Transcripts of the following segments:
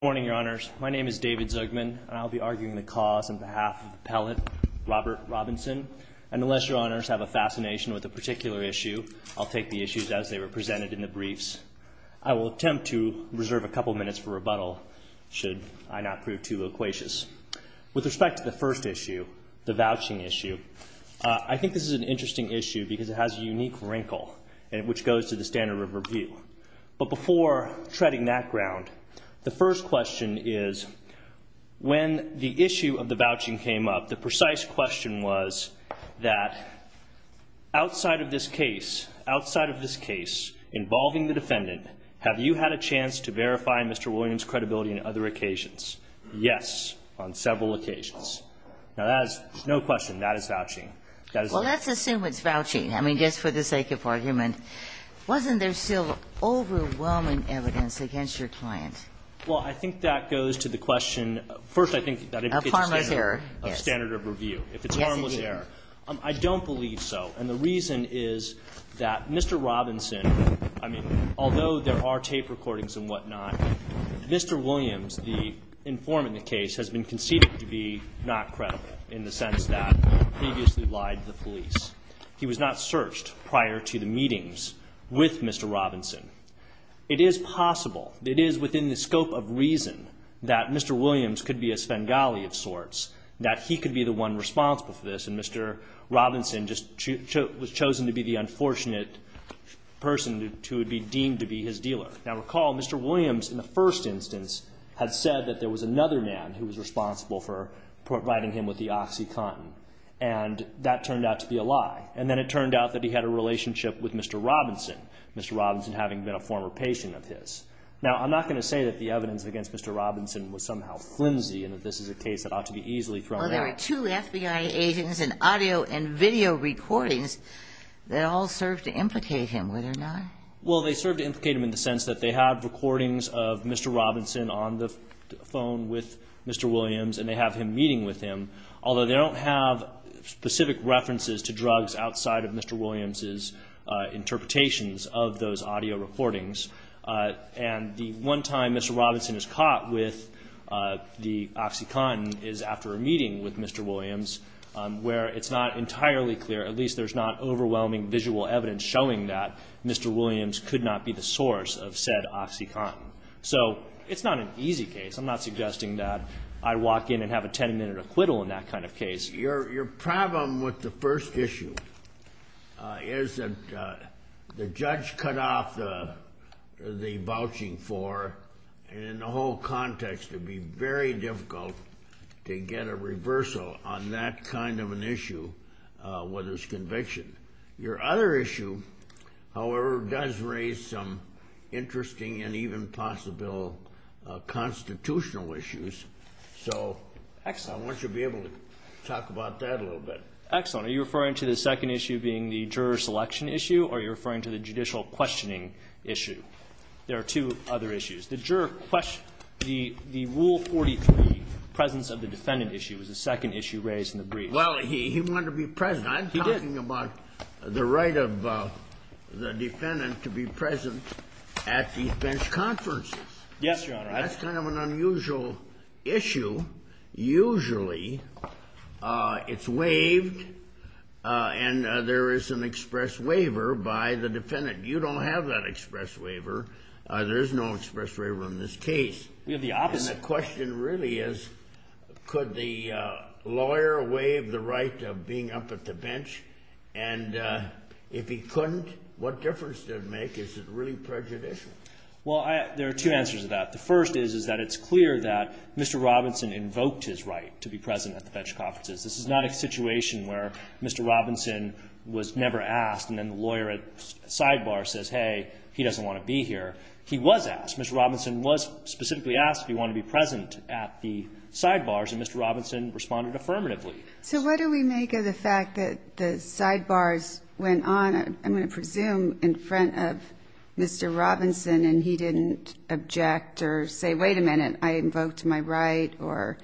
Good morning, your honors. My name is David Zugman, and I'll be arguing the cause on behalf of the appellate, Robert Robinson. And unless your honors have a fascination with a particular issue, I'll take the issues as they were presented in the briefs. I will attempt to reserve a couple minutes for rebuttal should I not prove too loquacious. With respect to the first issue, the vouching issue, I think this is an interesting issue because it has a unique wrinkle, which goes to the standard of review. But before treading that ground, the first question is, when the issue of the vouching came up, the precise question was that outside of this case, outside of this case involving the defendant, have you had a chance to verify Mr. Williams' credibility on other occasions? Yes, on several occasions. Now, that is no question, that is vouching. Well, let's assume it's vouching. I mean, just for the sake of argument. Wasn't there still overwhelming evidence against your client? Well, I think that goes to the question. First, I think that indicates a standard of review. Yes. If it's harmless error. I don't believe so. And the reason is that Mr. Robinson, I mean, although there are tape recordings and whatnot, Mr. Williams, the informant in the case, has been conceded to be not credible in the sense that he previously lied to the police. He was not searched prior to the meetings with Mr. Robinson. It is possible, it is within the scope of reason, that Mr. Williams could be a Spengali of sorts, that he could be the one responsible for this, and Mr. Robinson just was chosen to be the unfortunate person who would be deemed to be his dealer. Now, recall Mr. Williams, in the first instance, had said that there was another man who was responsible for providing him with the OxyContin, and that turned out to be a lie. And then it turned out that he had a relationship with Mr. Robinson, Mr. Robinson having been a former patient of his. Now, I'm not going to say that the evidence against Mr. Robinson was somehow flimsy and that this is a case that ought to be easily thrown out. Well, there are two FBI agents and audio and video recordings that all serve to implicate him, would there not? Well, they serve to implicate him in the sense that they have recordings of Mr. Robinson on the phone with Mr. Williams and they have him meeting with him, although they don't have specific references to drugs outside of Mr. Williams' interpretations of those audio recordings. And the one time Mr. Robinson is caught with the OxyContin is after a meeting with Mr. Williams, where it's not entirely clear, at least there's not overwhelming visual evidence showing that Mr. Williams could not be the source of said OxyContin. So it's not an easy case. I'm not suggesting that I walk in and have a 10-minute acquittal in that kind of case. Your problem with the first issue is that the judge cut off the vouching for, and in the whole context it would be very difficult to get a reversal on that kind of an issue with his conviction. Your other issue, however, does raise some interesting and even possible constitutional issues. So I want you to be able to talk about that a little bit. Excellent. Are you referring to the second issue being the juror selection issue, or are you referring to the judicial questioning issue? There are two other issues. The rule 43, presence of the defendant issue, was the second issue raised in the brief. Well, he wanted to be present. He did. I'm talking about the right of the defendant to be present at defense conferences. Yes, Your Honor. That's kind of an unusual issue. Usually it's waived, and there is an express waiver by the defendant. You don't have that express waiver. There is no express waiver in this case. We have the opposite. And the question really is, could the lawyer waive the right of being up at the bench? And if he couldn't, what difference does it make? Is it really prejudicial? Well, there are two answers to that. The first is that it's clear that Mr. Robinson invoked his right to be present at the bench conferences. This is not a situation where Mr. Robinson was never asked, and then the lawyer at sidebar says, hey, he doesn't want to be here. He was asked. Mr. Robinson was specifically asked if he wanted to be present at the sidebars, and Mr. Robinson responded affirmatively. So what do we make of the fact that the sidebars went on, I'm going to presume, in front of Mr. Robinson and he didn't object or say, wait a minute, I invoked my right or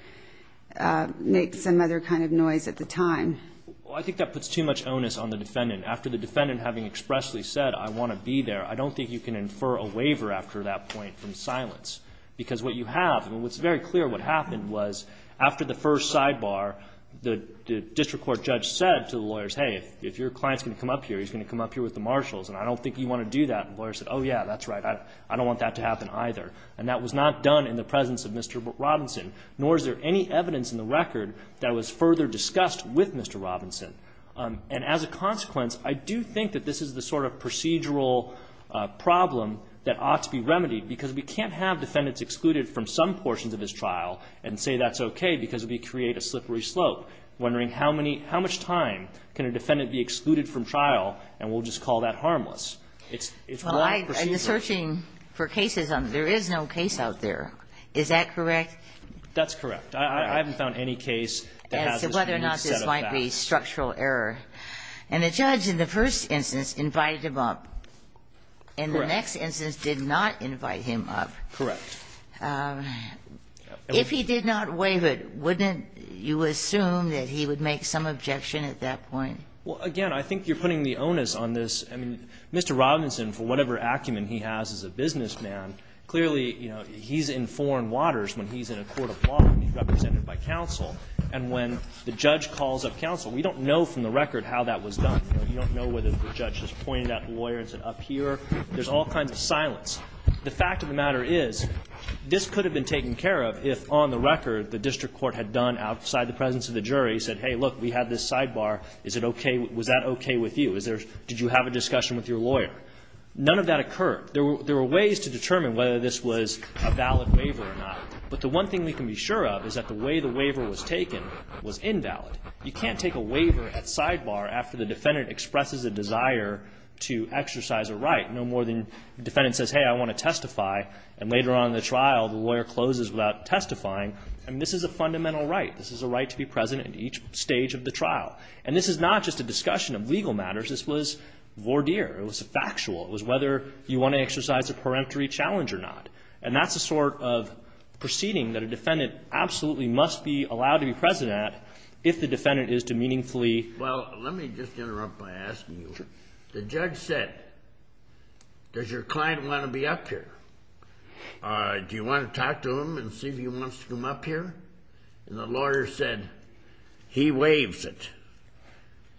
make some other kind of noise at the time? Well, I think that puts too much onus on the defendant. After the defendant having expressly said, I want to be there, I don't think you can infer a waiver after that point from silence. Because what you have, and what's very clear what happened was after the first sidebar, the district court judge said to the lawyers, hey, if your client's going to come up here, he's going to come up here with the marshals, and I don't think you want to do that. And the lawyer said, oh, yeah, that's right. I don't want that to happen either. And that was not done in the presence of Mr. Robinson, nor is there any evidence in the record that was further discussed with Mr. Robinson. And as a consequence, I do think that this is the sort of procedural problem that ought to be remedied, because we can't have defendants excluded from some portions of this trial and say that's okay, because it would create a slippery slope. I'm wondering how many – how much time can a defendant be excluded from trial and we'll just call that harmless? It's wrong procedure. Well, I've been searching for cases. There is no case out there. That's correct. I haven't found any case that has this unique set of facts. So whether or not this might be structural error. And the judge in the first instance invited him up. Correct. And the next instance did not invite him up. Correct. If he did not waive it, wouldn't you assume that he would make some objection at that point? Well, again, I think you're putting the onus on this. I mean, Mr. Robinson, for whatever acumen he has as a businessman, clearly, and when the judge calls up counsel, we don't know from the record how that was done. We don't know whether the judge has pointed at the lawyer and said up here. There's all kinds of silence. The fact of the matter is this could have been taken care of if on the record the district court had done outside the presence of the jury, said hey, look, we have this sidebar. Is it okay? Was that okay with you? Did you have a discussion with your lawyer? None of that occurred. There were ways to determine whether this was a valid waiver or not. But the one thing we can be sure of is that the way the waiver was taken was invalid. You can't take a waiver at sidebar after the defendant expresses a desire to exercise a right no more than the defendant says hey, I want to testify, and later on in the trial the lawyer closes without testifying. I mean, this is a fundamental right. This is a right to be present at each stage of the trial. And this is not just a discussion of legal matters. This was voir dire. It was factual. It was whether you want to exercise a peremptory challenge or not. And that's the sort of proceeding that a defendant absolutely must be allowed to be present at if the defendant is to meaningfully. Well, let me just interrupt by asking you. The judge said, does your client want to be up here? Do you want to talk to him and see if he wants to come up here? And the lawyer said, he waives it.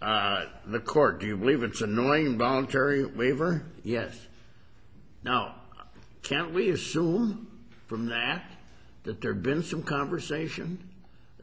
The court, do you believe it's an annoying voluntary waiver? Yes. Now, can't we assume from that that there have been some conversation,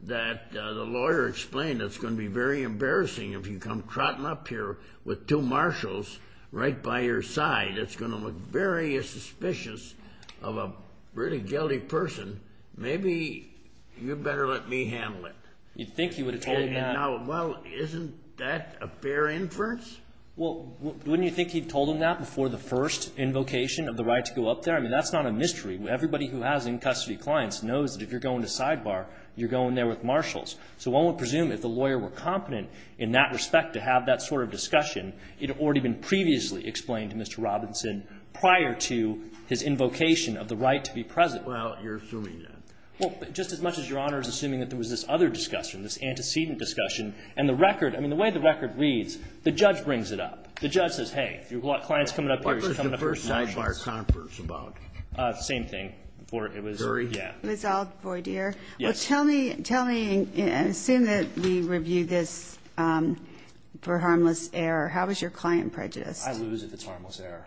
that the lawyer explained it's going to be very embarrassing if you come trotting up here with two marshals right by your side. It's going to look very suspicious of a really guilty person. Maybe you'd better let me handle it. You'd think he would have told him that. Well, isn't that a fair inference? Well, wouldn't you think he'd have told him that before the first invocation of the right to go up there? I mean, that's not a mystery. Everybody who has in-custody clients knows that if you're going to sidebar, you're going there with marshals. So one would presume if the lawyer were competent in that respect to have that sort of discussion, it had already been previously explained to Mr. Robinson prior to his invocation of the right to be present. Well, you're assuming that. Well, just as much as Your Honor is assuming that there was this other discussion, this antecedent discussion. And the record, I mean, the way the record reads, the judge brings it up. The judge says, hey, if you've got clients coming up here, you should come up here with marshals. What was the first sidebar conference about? Same thing. It was, yeah. It was all voir dire. Yes. Well, tell me, assuming that we review this for harmless error, how is your client prejudiced? I lose if it's harmless error.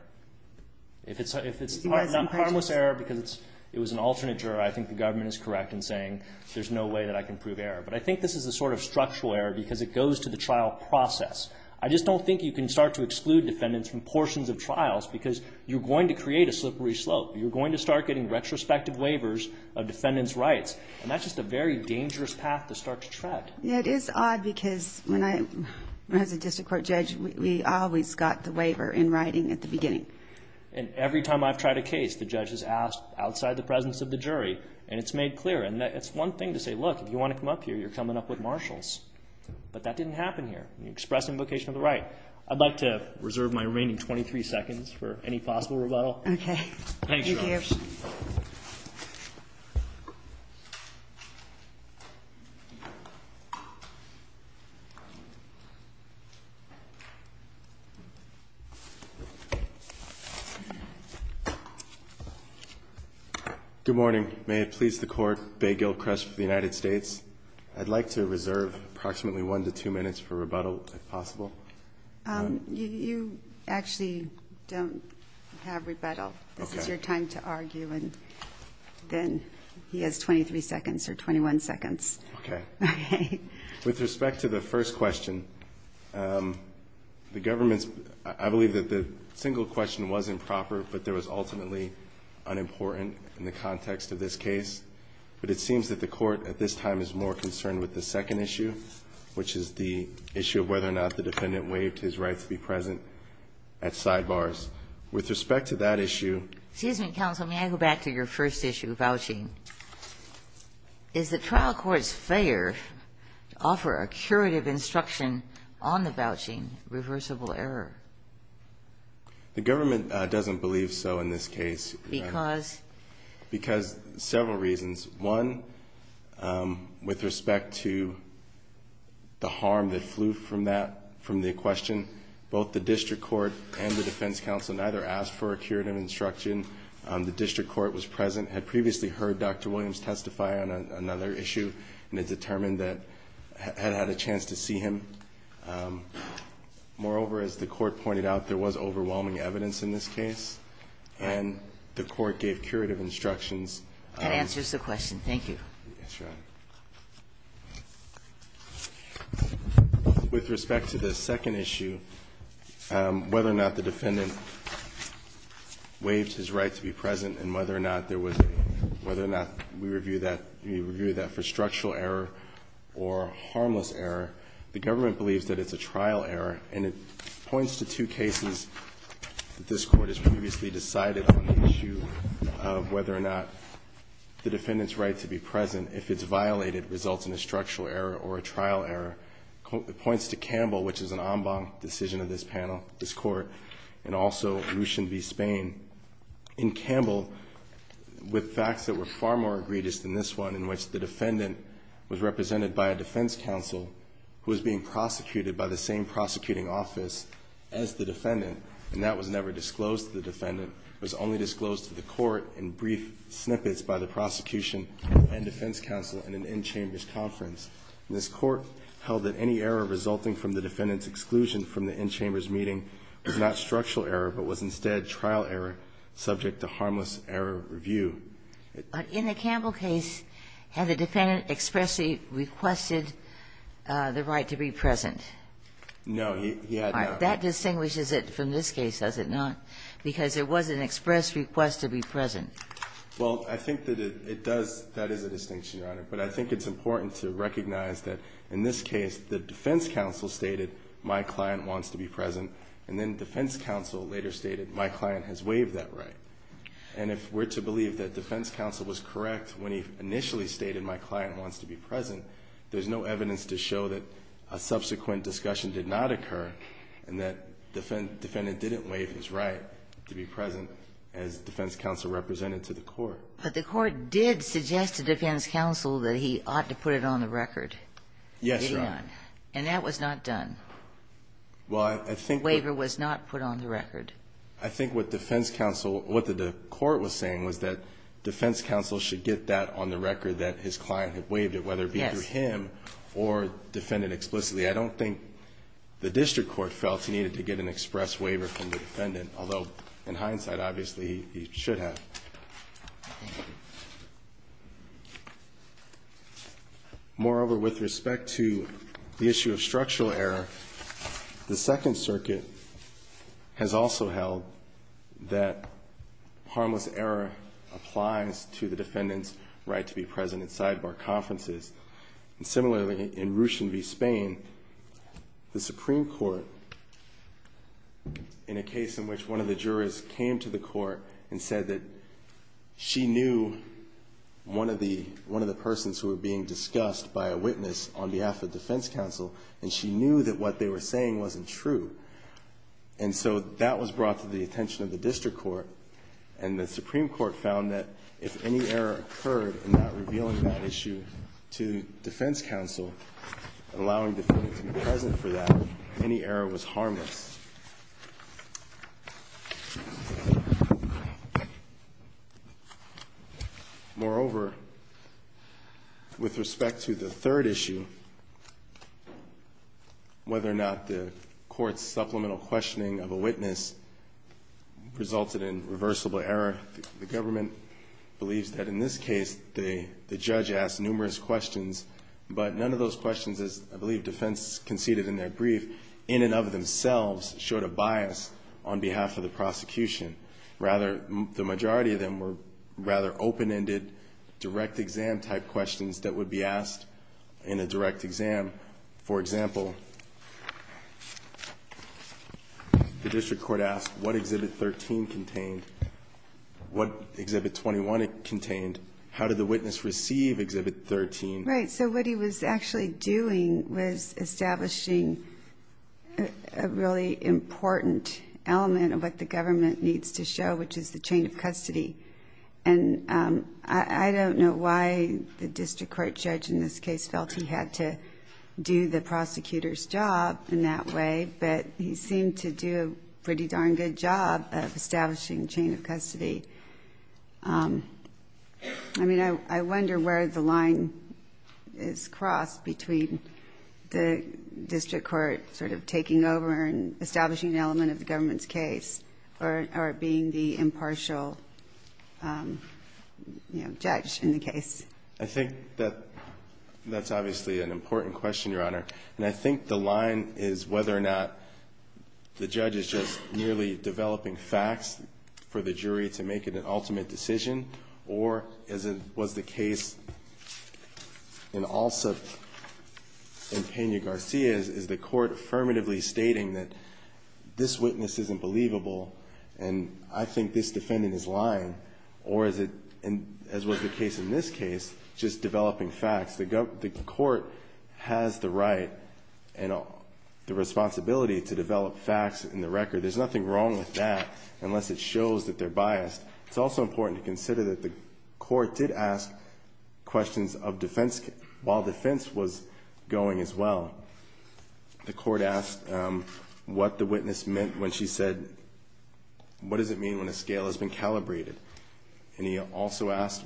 If it's harmless error because it was an alternate juror, I think the government is correct in saying there's no way that I can prove error. But I think this is a sort of structural error because it goes to the trial process. I just don't think you can start to exclude defendants from portions of trials because you're going to create a slippery slope. You're going to start getting retrospective waivers of defendants' rights. And that's just a very dangerous path to start to tread. Yeah, it is odd because when I was a district court judge, we always got the waiver in writing at the beginning. And every time I've tried a case, the judge has asked outside the presence of the jury and it's made clear. And it's one thing to say, look, if you want to come up here, you're coming up with marshals. But that didn't happen here. You're expressing vocation of the right. I'd like to reserve my remaining 23 seconds for any possible rebuttal. Okay. Thanks, Your Honor. Thank you. Good morning. May it please the Court. Bay Gilchrist for the United States. I'd like to reserve approximately one to two minutes for rebuttal if possible. You actually don't have rebuttal. This is your time to argue. And then he has 23 seconds or 21 seconds. Okay. Okay. With respect to the first question, the government's – I believe that the single question was improper, but there was ultimately unimportant in the context of this case. But it seems that the Court at this time is more concerned with the second issue, which is the issue of whether or not the defendant waived his right to be present at sidebars. With respect to that issue – Excuse me, counsel. May I go back to your first issue, vouching? Is the trial court's failure to offer a curative instruction on the vouching reversible error? The government doesn't believe so in this case. Because? Because several reasons. One, with respect to the harm that flew from the question, both the district court and the defense counsel neither asked for a curative instruction. The district court was present, had previously heard Dr. Williams testify on another issue, and had determined that – had had a chance to see him. Moreover, as the Court pointed out, there was overwhelming evidence in this case, and the Court gave curative instructions. That answers the question. Thank you. That's right. With respect to the second issue, whether or not the defendant waived his right to be present and whether or not there was a – whether or not we review that for a structural error or a harmless error, the government believes that it's a trial error, and it points to two cases that this Court has previously decided on the issue of whether or not the defendant's right to be present, if it's violated, results in a structural error or a trial error. It points to Campbell, which is an en banc decision of this panel, this Court, and also Lucien v. Spain. In Campbell, with facts that were far more egregious than this one, in which the defendant was represented by a defense counsel who was being prosecuted by the same prosecuting office as the defendant, and that was never disclosed to the defendant, it was only disclosed to the Court in brief snippets by the prosecution and defense counsel in an in-chambers conference. And this Court held that any error resulting from the defendant's exclusion from the in-chambers meeting was not structural error, but was instead trial error, subject to harmless error review. But in the Campbell case, had the defendant expressly requested the right to be present? No, he had not. All right. That distinguishes it from this case, does it not? Because there was an express request to be present. Well, I think that it does. That is a distinction, Your Honor. But I think it's important to recognize that in this case, the defense counsel stated, my client wants to be present, and then defense counsel later stated, my client has waived that right. And if we're to believe that defense counsel was correct when he initially stated my client wants to be present, there's no evidence to show that a subsequent discussion did not occur and that defendant didn't waive his right to be present as defense counsel represented to the Court. But the Court did suggest to defense counsel that he ought to put it on the record. Yes, Your Honor. And that was not done. Waiver was not put on the record. I think what defense counsel or what the Court was saying was that defense counsel should get that on the record that his client had waived it, whether it be through him or defendant explicitly. I don't think the district court felt he needed to get an express waiver from the defendant, although in hindsight, obviously, he should have. Moreover, with respect to the issue of structural error, the Second Circuit has also held that harmless error applies to the defendant's right to be present in sidebar conferences. And similarly, in Ruchin v. Spain, the Supreme Court, in a case in which one of the persons who were being discussed by a witness on behalf of defense counsel, and she knew that what they were saying wasn't true. And so that was brought to the attention of the district court, and the Supreme Court found that if any error occurred in not revealing that issue to defense counsel, allowing the defendant to be present for that, any error was harmless. Moreover, with respect to the third issue, whether or not the Court's supplemental questioning of a witness resulted in reversible error, the government believes that in this case the judge asked numerous questions, but none of those questions as I believe defense conceded in their brief, in and of themselves, showed a bias on behalf of the prosecution. Rather, the majority of them were rather open-ended, direct-exam-type questions that would be asked in a direct exam. For example, the district court asked what Exhibit 13 contained, what Exhibit 21 contained, how did the witness receive Exhibit 13. Right, so what he was actually doing was establishing a really important element of what the government needs to show, which is the chain of custody. And I don't know why the district court judge in this case felt he had to do the prosecutor's job in that way, but he seemed to do a pretty darn good job of establishing chain of custody. I mean, I wonder where the line is crossed between the district court sort of taking over and establishing an element of the government's case or being the impartial judge in the case. I think that's obviously an important question, Your Honor. And I think the line is whether or not the judge is just merely developing facts for the jury to make an ultimate decision, or as was the case in Alsa and Peña-Garcia's, is the court affirmatively stating that this witness isn't believable and I think this defendant is lying, or is it, as was the case in this case, just developing facts. The court has the right and the responsibility to develop facts in the record. There's nothing wrong with that unless it shows that they're biased. It's also important to consider that the court did ask questions of defense while defense was going as well. The court asked what the witness meant when she said, what does it mean when a scale has been calibrated? And he also asked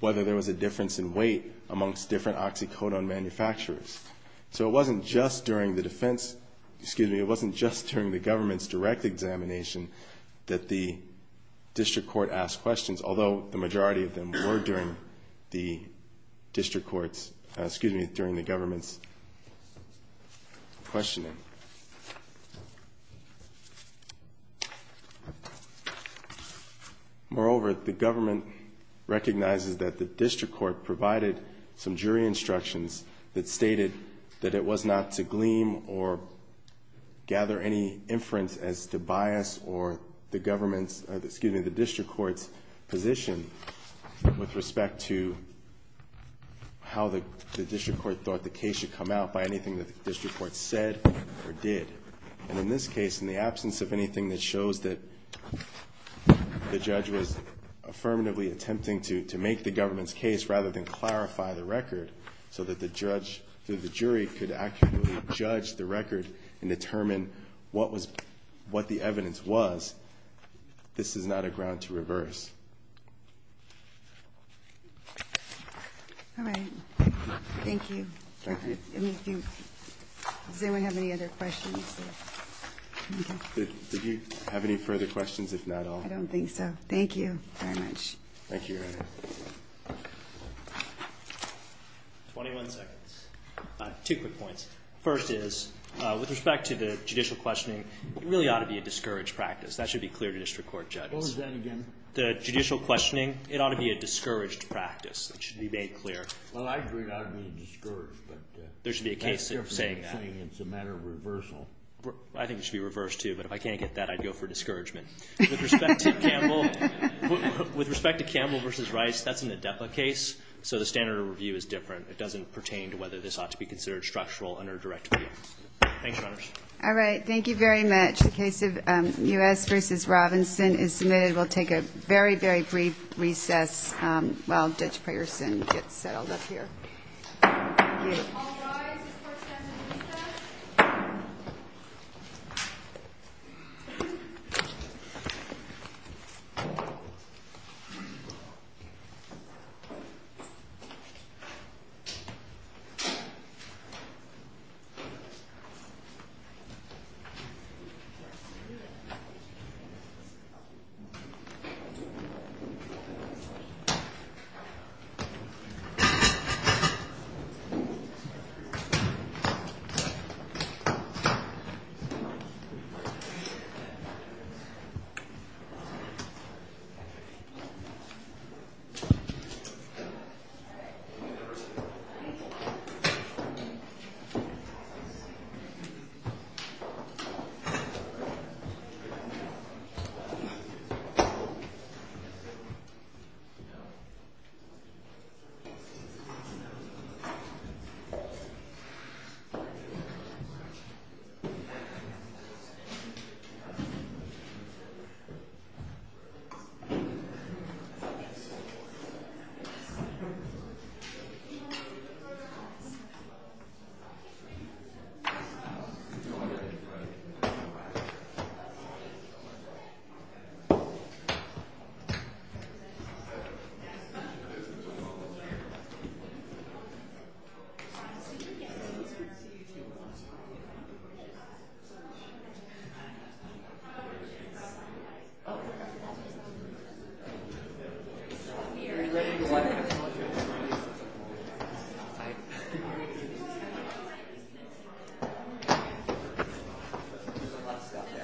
whether there was a difference in weight amongst different oxycodone manufacturers. So it wasn't just during the defense, excuse me, it wasn't just during the government's direct examination that the district court asked questions, although the majority of them were during the district court's, excuse me, during the government's questioning. Moreover, the government recognizes that the district court provided some jury evidence that indicated that it was not to gleam or gather any inference as to bias or the government's, excuse me, the district court's position with respect to how the district court thought the case should come out by anything that the district court said or did. And in this case, in the absence of anything that shows that the judge was affirmatively attempting to make the government's case rather than clarify the case so that the jury could accurately judge the record and determine what the evidence was, this is not a ground to reverse. All right. Thank you. Does anyone have any other questions? Did you have any further questions, if not all? I don't think so. Thank you very much. Thank you. 21 seconds. Two quick points. First is, with respect to the judicial questioning, it really ought to be a discouraged practice. That should be clear to district court judges. What was that again? The judicial questioning, it ought to be a discouraged practice. It should be made clear. Well, I agree it ought to be discouraged, but that's different from saying it's a matter of reversal. I think it should be reversed, too, but if I can't get that, I'd go for discouragement. With respect to Campbell v. Rice, that's in the DEPA case, so the standard of review is different. It doesn't pertain to whether this ought to be considered structural under direct review. Thanks, Your Honors. All right. Thank you very much. The case of U.S. v. Robinson is submitted. We'll take a very, very brief recess while Judge Prayerson gets settled up here. Thank you.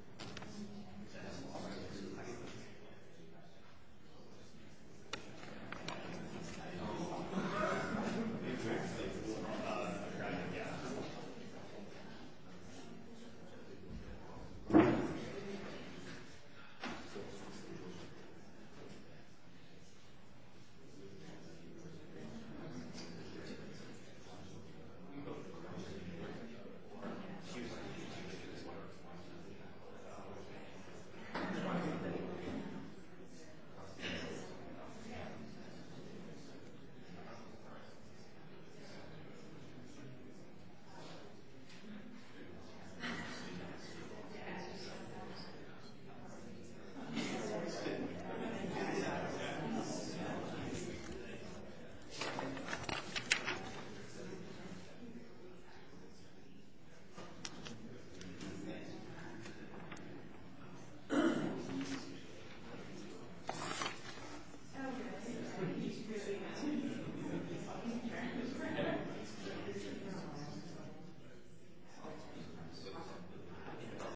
All rise for standard recess. Thank you. Thank you. Thank you. Thank you. Thank you. Thank you. Thank you. Thank you. Thank you. Thank you. Thank you. Thank you. Thank you. Thank you. Thank you. Thank you. Thank you. Thank you. Thank you. Thank you.